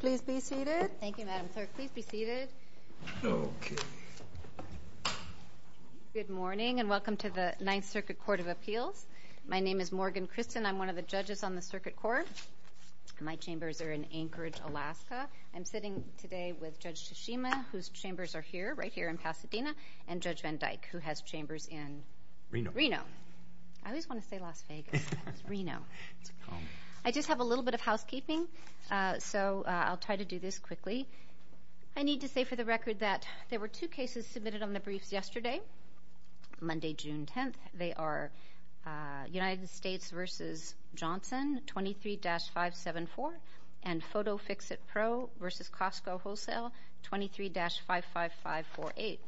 Please be seated. Thank you, Madam Clerk. Please be seated. Okay. Good morning and welcome to the Ninth Circuit Court of Appeals. My name is Morgan Christen. I'm one of the judges on the circuit court. My chambers are in Anchorage, Alaska. I'm sitting today with Judge Tashima, whose chambers are here, right here in Pasadena, and Judge Van Dyke, who has chambers in Reno. I always want to say Las Vegas, but it's Reno. I just have a little bit of housekeeping. So I'll try to do this quickly. I need to say for the record that there were two cases submitted on the briefs yesterday, Monday, June 10th. They are United States v. Johnson, 23-574, and Photo Fix-It Pro v. Costco Wholesale, 23-55548.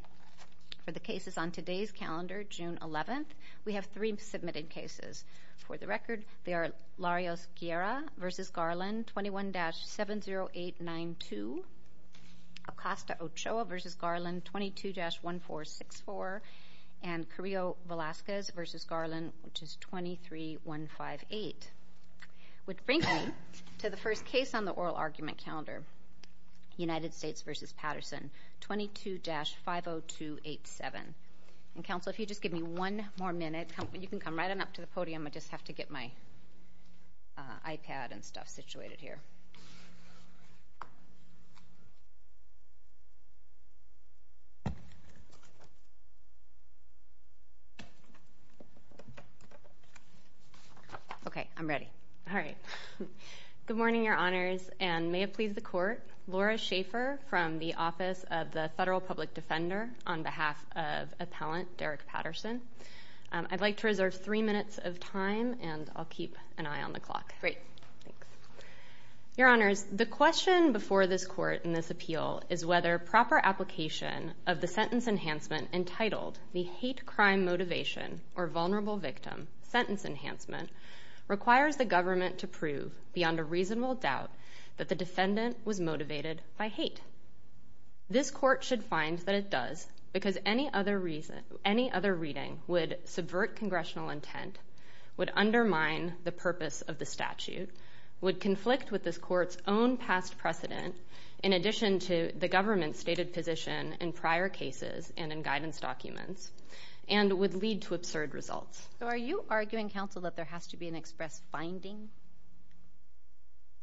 For the cases on today's calendar, June 11th, we have three submitted cases. For the record, they are Larios-Guerra v. Garland, 21-70892, Acosta-Ochoa v. Garland, 22-1464, and Carrillo-Velasquez v. Garland, which is 23-158. Which brings me to the first case on the oral argument calendar, United States v. Patterson, 22-50287. And, counsel, if you just give me one more minute, you can come right on up to the podium. I just have to get my iPad and stuff situated here. Okay, I'm ready. All right. Good morning, Your Honors, and may it please the Court. I'm Laura Schaefer from the Office of the Federal Public Defender on behalf of Appellant Derek Patterson. I'd like to reserve three minutes of time, and I'll keep an eye on the clock. Great. Thanks. Your Honors, the question before this Court in this appeal is whether proper application of the sentence enhancement entitled The Hate Crime Motivation or Vulnerable Victim Sentence Enhancement requires the government to prove, beyond a reasonable doubt, that the defendant was motivated by hate. This Court should find that it does, because any other reading would subvert congressional intent, would undermine the purpose of the statute, would conflict with this Court's own past precedent, in addition to the government's stated position in prior cases and in guidance documents, and would lead to absurd results. So are you arguing, Counsel, that there has to be an express finding?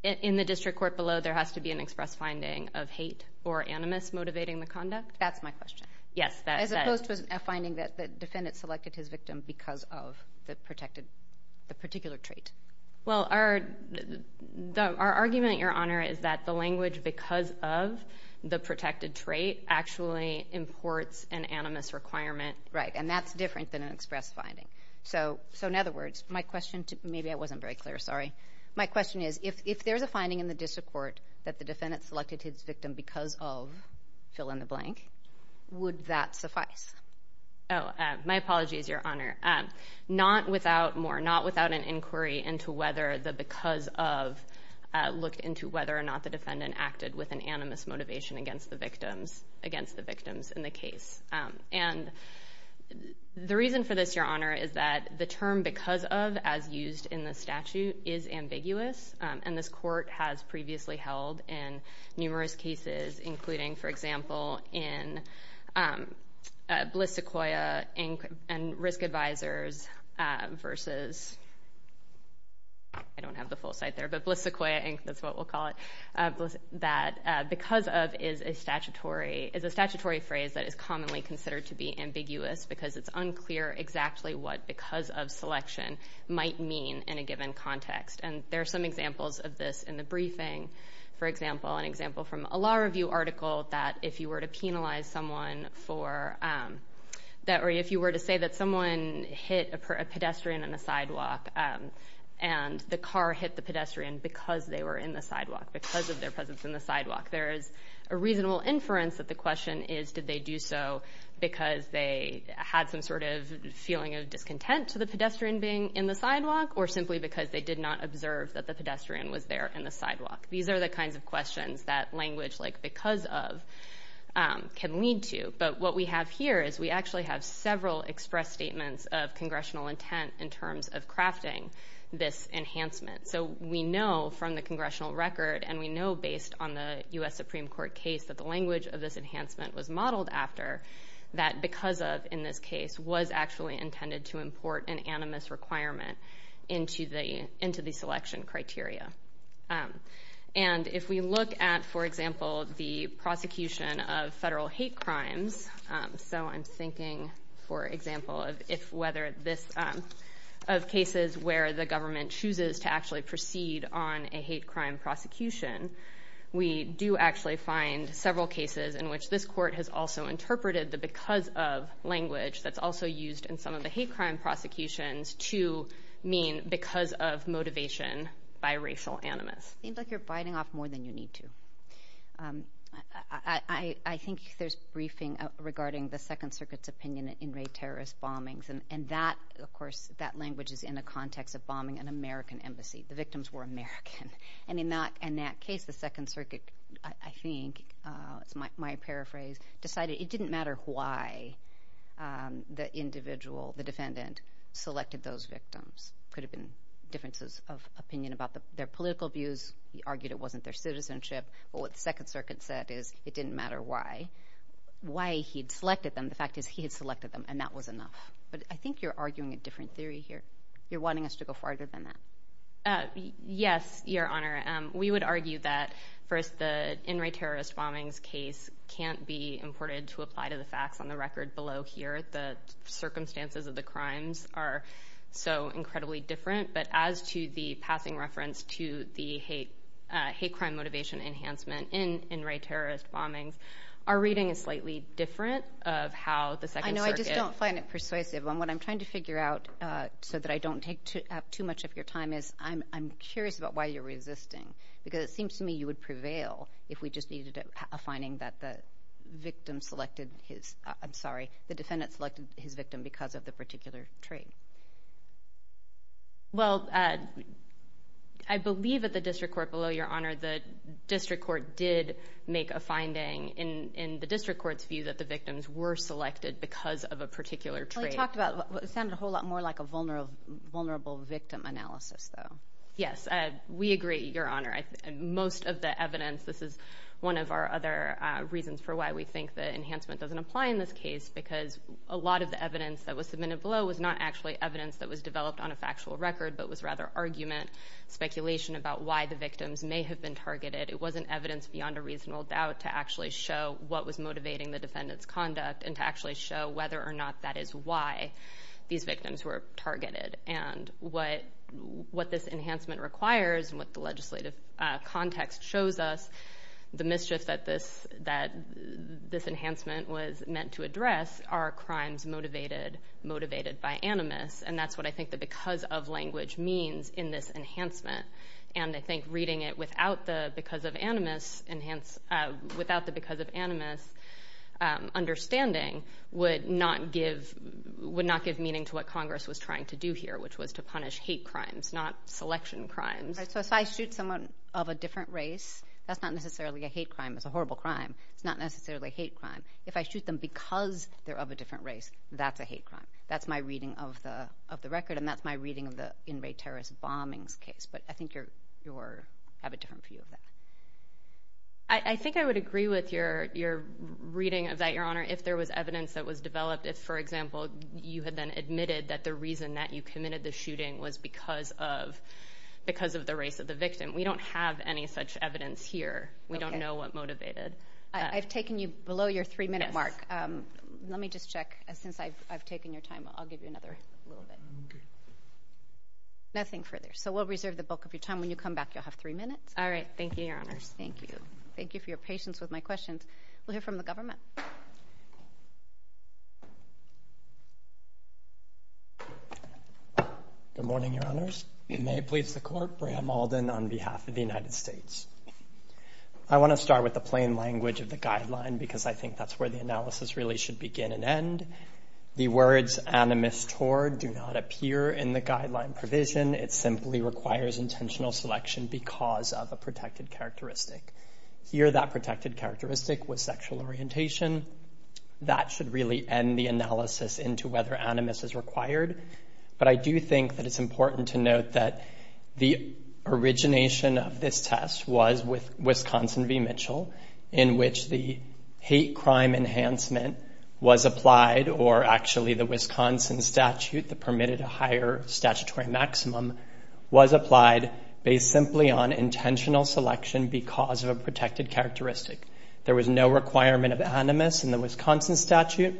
In the district court below, there has to be an express finding of hate or animus motivating the conduct? That's my question. Yes, that's it. As opposed to a finding that the defendant selected his victim because of the particular trait. Well, our argument, Your Honor, is that the language because of the protected trait actually imports an animus requirement. Right, and that's different than an express finding. So, in other words, my question, maybe I wasn't very clear, sorry. My question is, if there's a finding in the district court that the defendant selected his victim because of fill in the blank, would that suffice? Oh, my apologies, Your Honor. Not without more, not without an inquiry into whether the because of looked into whether or not the defendant acted with an animus motivation against the victims in the case. And the reason for this, Your Honor, is that the term because of, as used in the statute, is ambiguous. And this court has previously held in numerous cases, including, for example, in Bliss Sequoia, Inc., and Risk Advisors versus, I don't have the full site there, but Bliss Sequoia, Inc., that's what we'll call it, that because of is a statutory phrase that is commonly considered to be ambiguous because it's unclear exactly what because of selection might mean in a given context. And there are some examples of this in the briefing. For example, an example from a law review article that if you were to penalize someone for that, or if you were to say that someone hit a pedestrian on a sidewalk and the car hit the pedestrian because they were in the sidewalk, because of their presence in the sidewalk, there is a reasonable inference that the question is did they do so because they had some sort of feeling of discontent to the pedestrian being in the sidewalk or simply because they did not observe that the pedestrian was there in the sidewalk. These are the kinds of questions that language like because of can lead to. But what we have here is we actually have several express statements of congressional intent in terms of crafting this enhancement. So we know from the congressional record and we know based on the U.S. Supreme Court case that the language of this enhancement was modeled after that because of in this case was actually intended to import an animus requirement into the selection criteria. And if we look at, for example, the prosecution of federal hate crimes, so I'm thinking, for example, of cases where the government chooses to actually proceed on a hate crime prosecution, we do actually find several cases in which this court has also interpreted the because of language that's also used in some of the hate crime prosecutions to mean because of motivation by racial animus. Seems like you're biting off more than you need to. I think there's briefing regarding the Second Circuit's opinion in rate terrorist bombings. And that, of course, that language is in the context of bombing an American embassy. The victims were American. And in that case, the Second Circuit, I think, it's my paraphrase, decided it didn't matter why the individual, the defendant, selected those victims. Could have been differences of opinion about their political views. He argued it wasn't their citizenship. But what the Second Circuit said is it didn't matter why. Why he'd selected them, the fact is he had selected them, and that was enough. But I think you're arguing a different theory here. You're wanting us to go farther than that. Yes, Your Honor. We would argue that, first, the in-rate terrorist bombings case can't be imported to apply to the facts on the record below here. The circumstances of the crimes are so incredibly different. But as to the passing reference to the hate crime motivation enhancement in in-rate terrorist bombings, our reading is slightly different of how the Second Circuit— I know. I just don't find it persuasive. And what I'm trying to figure out so that I don't take up too much of your time is I'm curious about why you're resisting. Because it seems to me you would prevail if we just needed a finding that the victim selected his— I'm sorry, the defendant selected his victim because of the particular trait. Well, I believe at the district court below, Your Honor, the district court did make a finding in the district court's view that the victims were selected because of a particular trait. It sounded a whole lot more like a vulnerable victim analysis, though. Yes, we agree, Your Honor. Most of the evidence—this is one of our other reasons for why we think the enhancement doesn't apply in this case because a lot of the evidence that was submitted below was not actually evidence that was developed on a factual record, but was rather argument, speculation about why the victims may have been targeted. It wasn't evidence beyond a reasonable doubt to actually show what was motivating the defendant's conduct and to actually show whether or not that is why these victims were targeted. And what this enhancement requires and what the legislative context shows us, the mischief that this enhancement was meant to address are crimes motivated by animus, and that's what I think the because of language means in this enhancement. And I think reading it without the because of animus understanding would not give meaning to what Congress was trying to do here, which was to punish hate crimes, not selection crimes. So if I shoot someone of a different race, that's not necessarily a hate crime. It's a horrible crime. It's not necessarily a hate crime. If I shoot them because they're of a different race, that's a hate crime. That's my reading of the record, and that's my reading of the inmate terrorist bombings case. But I think you have a different view of that. I think I would agree with your reading of that, Your Honor, if there was evidence that was developed. If, for example, you had then admitted that the reason that you committed the shooting was because of the race of the victim, we don't have any such evidence here. We don't know what motivated. I've taken you below your three-minute mark. Let me just check. Since I've taken your time, I'll give you another little bit. Nothing further. So we'll reserve the bulk of your time. When you come back, you'll have three minutes. All right. Thank you, Your Honor. Thank you. Thank you for your patience with my questions. We'll hear from the government. Good morning, Your Honors. May it please the Court. Bram Alden on behalf of the United States. I want to start with the plain language of the guideline because I think that's where the analysis really should begin and end. The words animus tor do not appear in the guideline provision. It simply requires intentional selection because of a protected characteristic. Here, that protected characteristic was sexual orientation. That should really end the analysis into whether animus is required. But I do think that it's important to note that the origination of this test was with Wisconsin v. Mitchell in which the hate crime enhancement was applied or actually the Wisconsin statute that permitted a higher statutory maximum based simply on intentional selection because of a protected characteristic. There was no requirement of animus in the Wisconsin statute.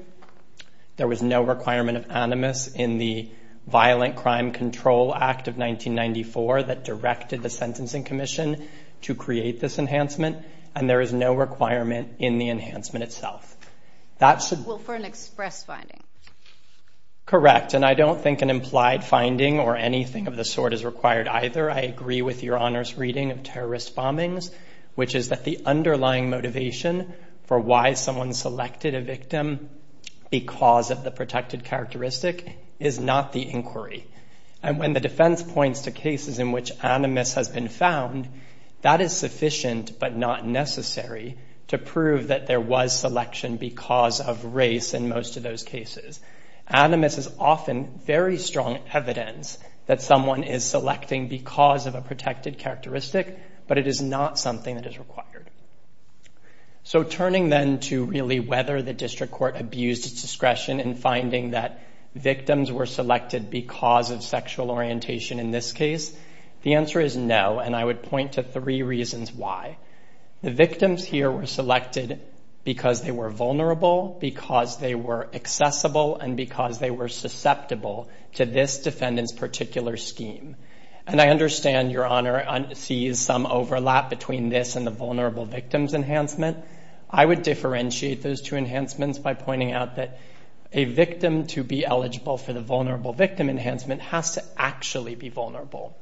There was no requirement of animus in the Violent Crime Control Act of 1994 that directed the Sentencing Commission to create this enhancement, and there is no requirement in the enhancement itself. Well, for an express finding. Correct, and I don't think an implied finding or anything of the sort is required either. I agree with Your Honor's reading of terrorist bombings, which is that the underlying motivation for why someone selected a victim because of the protected characteristic is not the inquiry. And when the defense points to cases in which animus has been found, that is sufficient but not necessary to prove that there was selection because of race in most of those cases. Animus is often very strong evidence that someone is selecting because of a protected characteristic, but it is not something that is required. So turning then to really whether the district court abused its discretion in finding that victims were selected because of sexual orientation in this case, the answer is no, and I would point to three reasons why. The victims here were selected because they were vulnerable, because they were accessible, and because they were susceptible to this defendant's particular scheme. And I understand Your Honor sees some overlap between this and the vulnerable victims enhancement. I would differentiate those two enhancements by pointing out that a victim to be eligible for the vulnerable victim enhancement has to actually be vulnerable.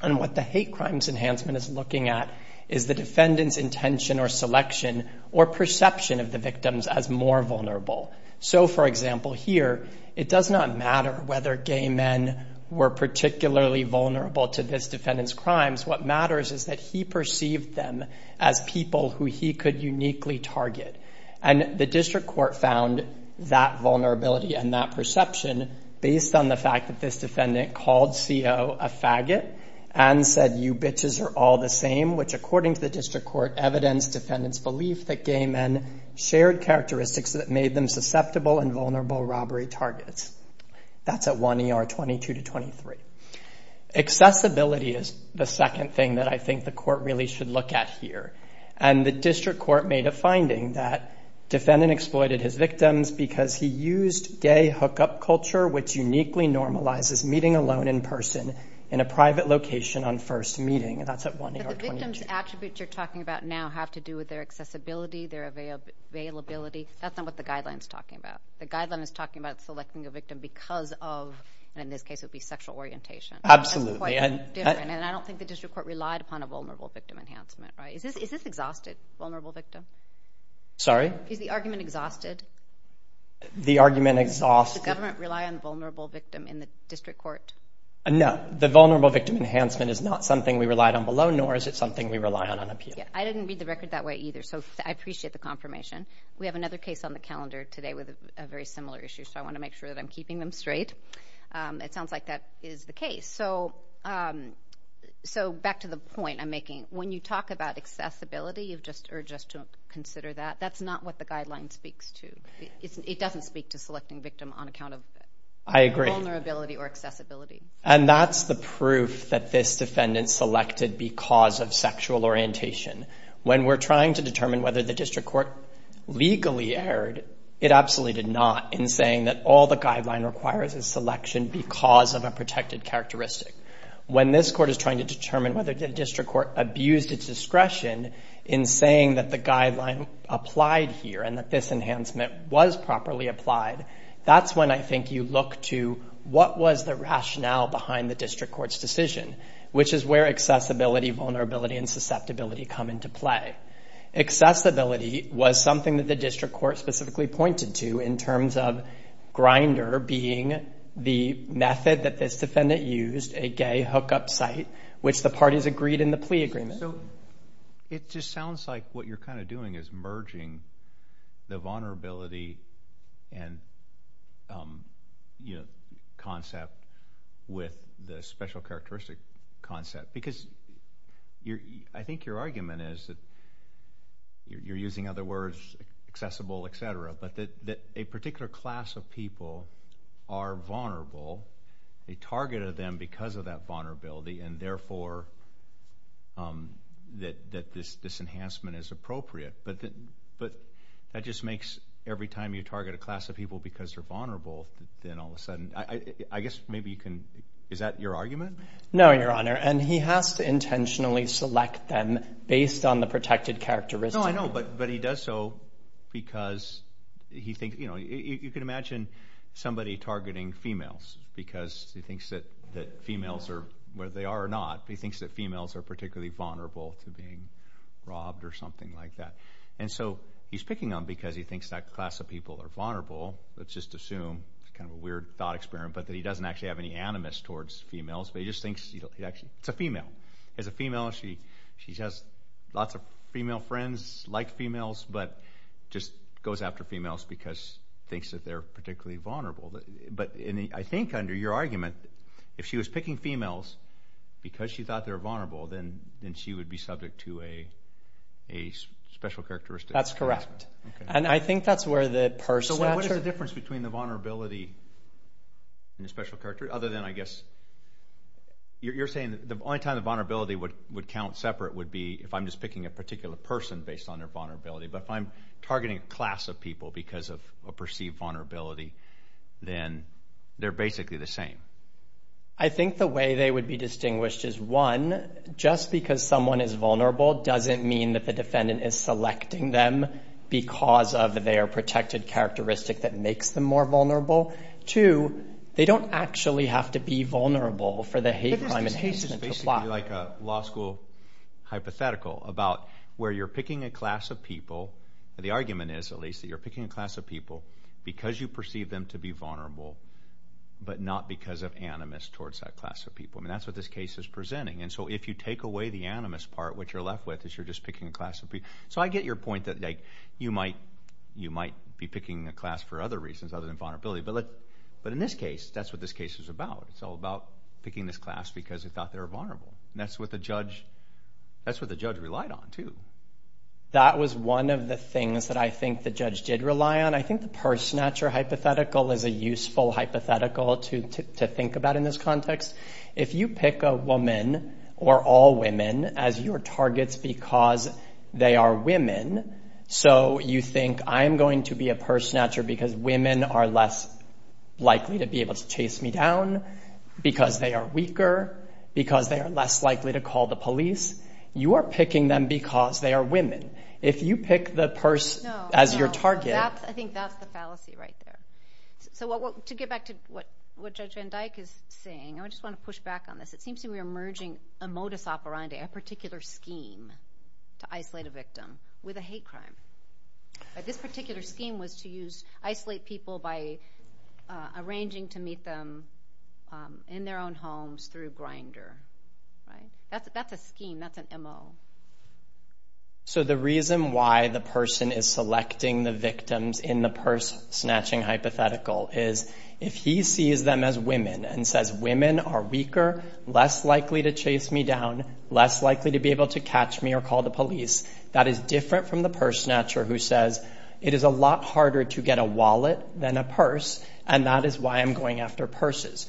And what the hate crimes enhancement is looking at is the defendant's intention or selection or perception of the victims as more vulnerable. So, for example, here it does not matter whether gay men were particularly vulnerable to this defendant's crimes. What matters is that he perceived them as people who he could uniquely target. And the district court found that vulnerability and that perception based on the fact that this defendant called CO a faggot and said, you bitches are all the same, which according to the district court, evidenced defendant's belief that gay men shared characteristics that made them susceptible and vulnerable robbery targets. That's at 1 ER 22 to 23. Accessibility is the second thing that I think the court really should look at here. And the district court made a finding that defendant exploited his victims because he used gay hookup culture, which uniquely normalizes meeting alone in person in a private location on first meeting. And that's at 1 ER 22. But the victim's attributes you're talking about now have to do with their accessibility, their availability. That's not what the guideline's talking about. The guideline is talking about selecting a victim because of, and in this case it would be sexual orientation. Absolutely. And I don't think the district court relied upon a vulnerable victim enhancement. Is this exhausted, vulnerable victim? Sorry? Is the argument exhausted? The argument exhausted? Does the government rely on vulnerable victim in the district court? No. The vulnerable victim enhancement is not something we relied on below, nor is it something we rely on on appeal. I didn't read the record that way either, so I appreciate the confirmation. We have another case on the calendar today with a very similar issue, so I want to make sure that I'm keeping them straight. It sounds like that is the case. So back to the point I'm making, when you talk about accessibility or just to consider that, that's not what the guideline speaks to. It doesn't speak to selecting victim on account of vulnerability or accessibility. And that's the proof that this defendant selected because of sexual orientation. When we're trying to determine whether the district court legally erred, it absolutely did not in saying that all the guideline requires is selection because of a protected characteristic. When this court is trying to determine whether the district court abused its discretion in saying that the guideline applied here and that this enhancement was properly applied, that's when I think you look to what was the rationale behind the district court's decision, which is where accessibility, vulnerability, and susceptibility come into play. Accessibility was something that the district court specifically pointed to in terms of Grindr being the method that this defendant used, a gay hookup site, which the parties agreed in the plea agreement. So it just sounds like what you're kind of doing is merging the vulnerability and concept with the special characteristic concept. Because I think your argument is that you're using other words, accessible, et cetera, but that a particular class of people are vulnerable. They targeted them because of that vulnerability, and therefore that this enhancement is appropriate. But that just makes every time you target a class of people because they're vulnerable, then all of a sudden, I guess maybe you can, is that your argument? No, Your Honor, and he has to intentionally select them based on the protected characteristic. No, I know, but he does so because he thinks, you know, you can imagine somebody targeting females because he thinks that females are, whether they are or not, he thinks that females are particularly vulnerable to being robbed or something like that. And so he's picking them because he thinks that class of people are vulnerable. Let's just assume, kind of a weird thought experiment, but that he doesn't actually have any animus towards females, but he just thinks it's a female. As a female, she has lots of female friends, like females, but just goes after females because he thinks that they're particularly vulnerable. But I think under your argument, if she was picking females because she thought they were vulnerable, then she would be subject to a special characteristic assessment. That's correct, and I think that's where the person... So what is the difference between the vulnerability and the special characteristic? Other than, I guess, you're saying that the only time the vulnerability would count separate would be if I'm just picking a particular person based on their vulnerability, but if I'm targeting a class of people because of a perceived vulnerability, then they're basically the same. I think the way they would be distinguished is, one, just because someone is vulnerable doesn't mean that the defendant is selecting them because of their protected characteristic that makes them more vulnerable. Two, they don't actually have to be vulnerable for the hate crime in the case to apply. But this case is basically like a law school hypothetical about where you're picking a class of people. The argument is, at least, that you're picking a class of people because you perceive them to be vulnerable, but not because of animus towards that class of people. That's what this case is presenting, and so if you take away the animus part, what you're left with is you're just picking a class of people. So I get your point that you might be picking a class for other reasons other than vulnerability, but in this case, that's what this case is about. It's all about picking this class because they thought they were vulnerable, and that's what the judge relied on too. That was one of the things that I think the judge did rely on. And I think the purse snatcher hypothetical is a useful hypothetical to think about in this context. If you pick a woman or all women as your targets because they are women, so you think, I'm going to be a purse snatcher because women are less likely to be able to chase me down, because they are weaker, because they are less likely to call the police, you are picking them because they are women. If you pick the purse as your target— I think that's the fallacy right there. So to get back to what Judge Van Dyke is saying, I just want to push back on this. It seems to me we're merging a modus operandi, a particular scheme, to isolate a victim with a hate crime. This particular scheme was to isolate people by arranging to meet them in their own homes through Grindr. That's a scheme. That's an MO. So the reason why the person is selecting the victims in the purse snatching hypothetical is, if he sees them as women and says, women are weaker, less likely to chase me down, less likely to be able to catch me or call the police, that is different from the purse snatcher who says, it is a lot harder to get a wallet than a purse, and that is why I'm going after purses.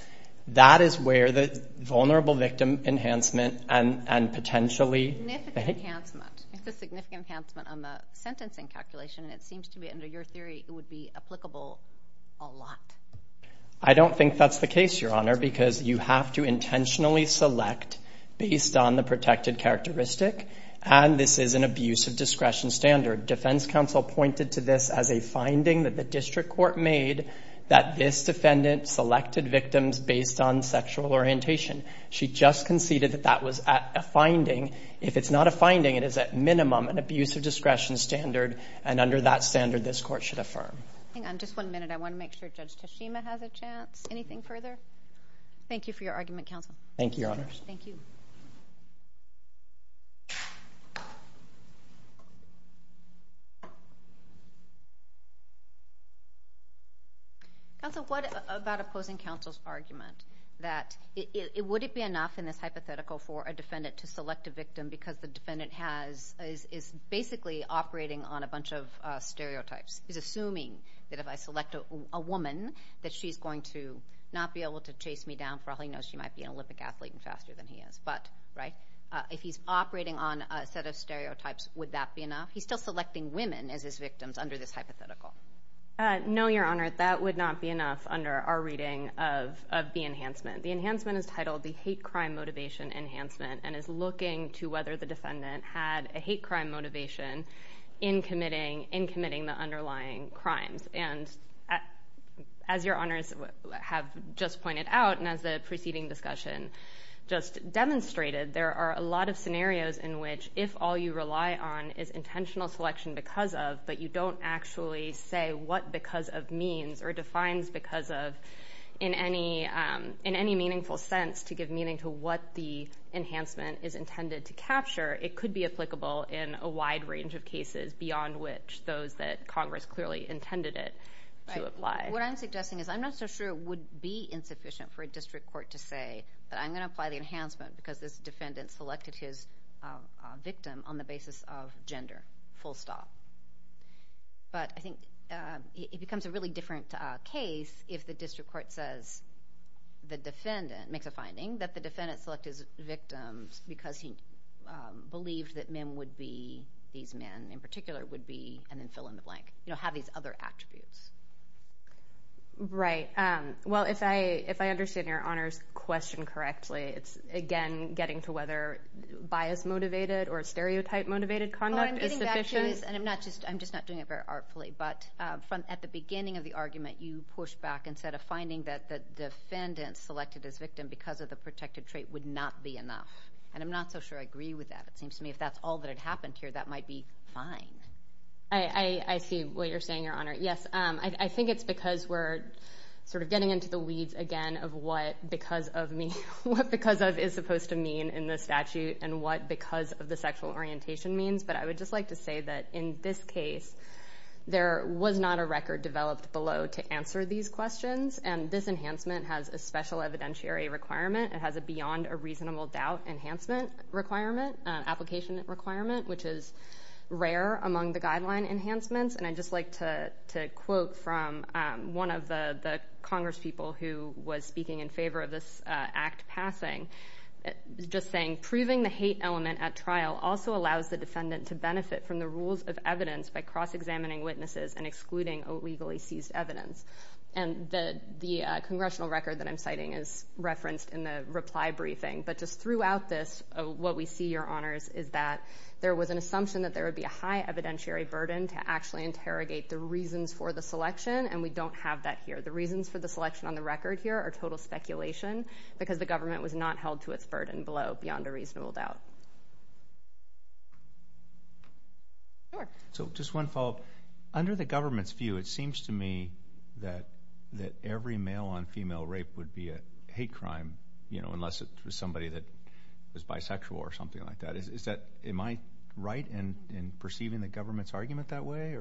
That is where the vulnerable victim enhancement and potentially— Significant enhancement. It's a significant enhancement on the sentencing calculation, and it seems to me, under your theory, it would be applicable a lot. I don't think that's the case, Your Honor, because you have to intentionally select based on the protected characteristic, and this is an abuse of discretion standard. Defense counsel pointed to this as a finding that the district court made that this defendant selected victims based on sexual orientation. She just conceded that that was a finding. If it's not a finding, it is at minimum an abuse of discretion standard, and under that standard, this court should affirm. Hang on just one minute. I want to make sure Judge Tashima has a chance. Anything further? Thank you for your argument, counsel. Thank you, Your Honor. Thank you. Counsel, what about opposing counsel's argument that would it be enough in this hypothetical for a defendant to select a victim because the defendant is basically operating on a bunch of stereotypes? He's assuming that if I select a woman that she's going to not be able to chase me down for all he knows she might be an Olympic athlete and faster than he is. But if he's operating on a set of stereotypes, would that be enough? He's still selecting women as his victims under this hypothetical. No, Your Honor. That would not be enough under our reading of the enhancement. The enhancement is titled the hate crime motivation enhancement and is looking to whether the defendant had a hate crime motivation in committing the underlying crimes. And as Your Honors have just pointed out and as the preceding discussion just demonstrated, there are a lot of scenarios in which if all you rely on is intentional selection because of but you don't actually say what because of means or defines because of in any meaningful sense to give meaning to what the enhancement is intended to capture, it could be applicable in a wide range of cases beyond which those that Congress clearly intended it to apply. What I'm suggesting is I'm not so sure it would be insufficient for a district court to say that I'm going to apply the enhancement because this defendant selected his victim on the basis of gender, full stop. But I think it becomes a really different case if the district court says the defendant makes a finding that the defendant selected his victims because he believed that men would be these men in particular would be and then fill in the blank, have these other attributes. Right. Well, if I understand Your Honor's question correctly, it's again getting to whether bias-motivated or stereotype-motivated conduct is sufficient. Well, I'm getting back to this, and I'm just not doing it very artfully. But at the beginning of the argument, you pushed back and said a finding that the defendant selected his victim because of the protected trait would not be enough. And I'm not so sure I agree with that. It seems to me if that's all that had happened here, that might be fine. I see what you're saying, Your Honor. Yes, I think it's because we're sort of getting into the weeds again of what because of is supposed to mean in the statute and what because of the sexual orientation means. But I would just like to say that in this case, there was not a record developed below to answer these questions. And this enhancement has a special evidentiary requirement. It has a beyond a reasonable doubt enhancement requirement, application requirement, which is rare among the guideline enhancements. And I'd just like to quote from one of the congresspeople who was speaking in favor of this act passing, just saying, proving the hate element at trial also allows the defendant to benefit from the rules of evidence by cross-examining witnesses and excluding illegally seized evidence. And the congressional record that I'm citing is referenced in the reply briefing. But just throughout this, what we see, Your Honors, is that there was an assumption that there would be a high evidentiary burden to actually interrogate the reasons for the selection, and we don't have that here. The reasons for the selection on the record here are total speculation because the government was not held to its burden below beyond a reasonable doubt. So just one follow-up. Under the government's view, it seems to me that every male-on-female rape would be a hate crime, unless it was somebody that was bisexual or something like that. Am I right in perceiving the government's argument that way?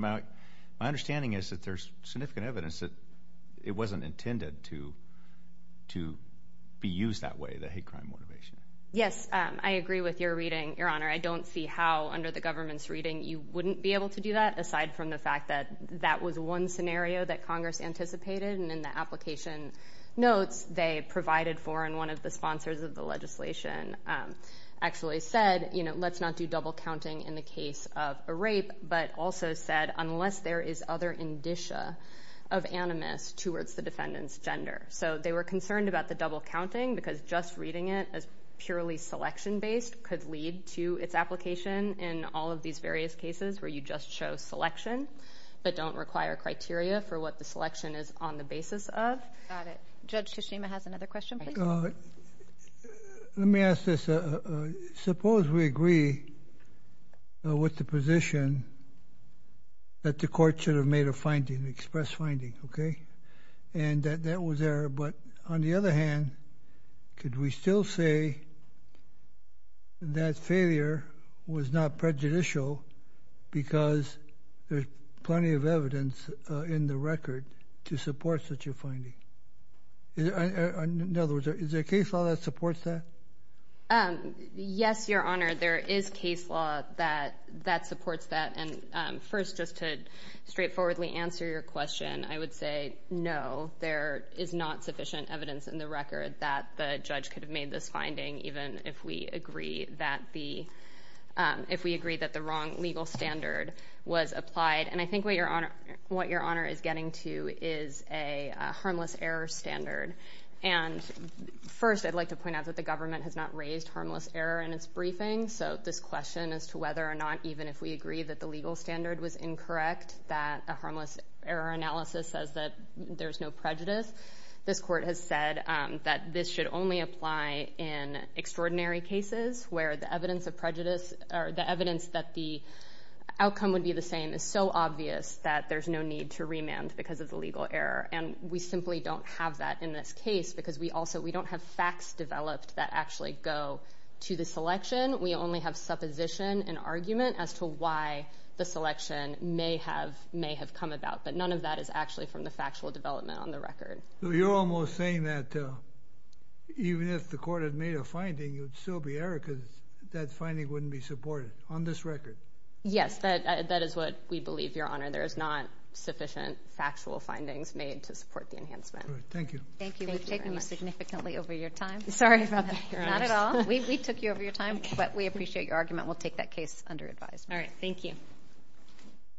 My understanding is that there's significant evidence that it wasn't intended to be used that way, the hate crime motivation. Yes, I agree with your reading, Your Honor. I don't see how under the government's reading you wouldn't be able to do that, aside from the fact that that was one scenario that Congress anticipated, and in the application notes they provided for, and one of the sponsors of the legislation actually said, let's not do double counting in the case of a rape, but also said, unless there is other indicia of animus towards the defendant's gender. So they were concerned about the double counting because just reading it as purely selection-based could lead to its application in all of these various cases where you just show selection, but don't require criteria for what the selection is on the basis of. Got it. Judge Kishima has another question, please. Let me ask this. Suppose we agree with the position that the court should have made a finding, expressed finding, okay, and that that was there, but on the other hand, could we still say that failure was not prejudicial because there's plenty of evidence in the record to support such a finding? In other words, is there case law that supports that? Yes, Your Honor, there is case law that supports that, and first, just to straightforwardly answer your question, I would say no, there is not sufficient evidence in the record that the judge could have made this finding, even if we agree that the wrong legal standard was applied, and I think what Your Honor is getting to is a harmless error standard. And first, I'd like to point out that the government has not raised harmless error in its briefing, so this question as to whether or not even if we agree that the legal standard was incorrect, that a harmless error analysis says that there's no prejudice, this court has said that this should only apply in extraordinary cases where the evidence of prejudice or the evidence that the outcome would be the same is so obvious that there's no need to remand because of the legal error, and we simply don't have that in this case because we also, we don't have facts developed that actually go to the selection. We only have supposition and argument as to why the selection may have come about, but none of that is actually from the factual development on the record. So you're almost saying that even if the court had made a finding, it would still be error because that finding wouldn't be supported on this record? Yes, that is what we believe, Your Honor. There is not sufficient factual findings made to support the enhancement. Thank you. Thank you. We've taken you significantly over your time. Sorry about that, Your Honor. Not at all. We took you over your time, but we appreciate your argument. We'll take that case under advisement. All right.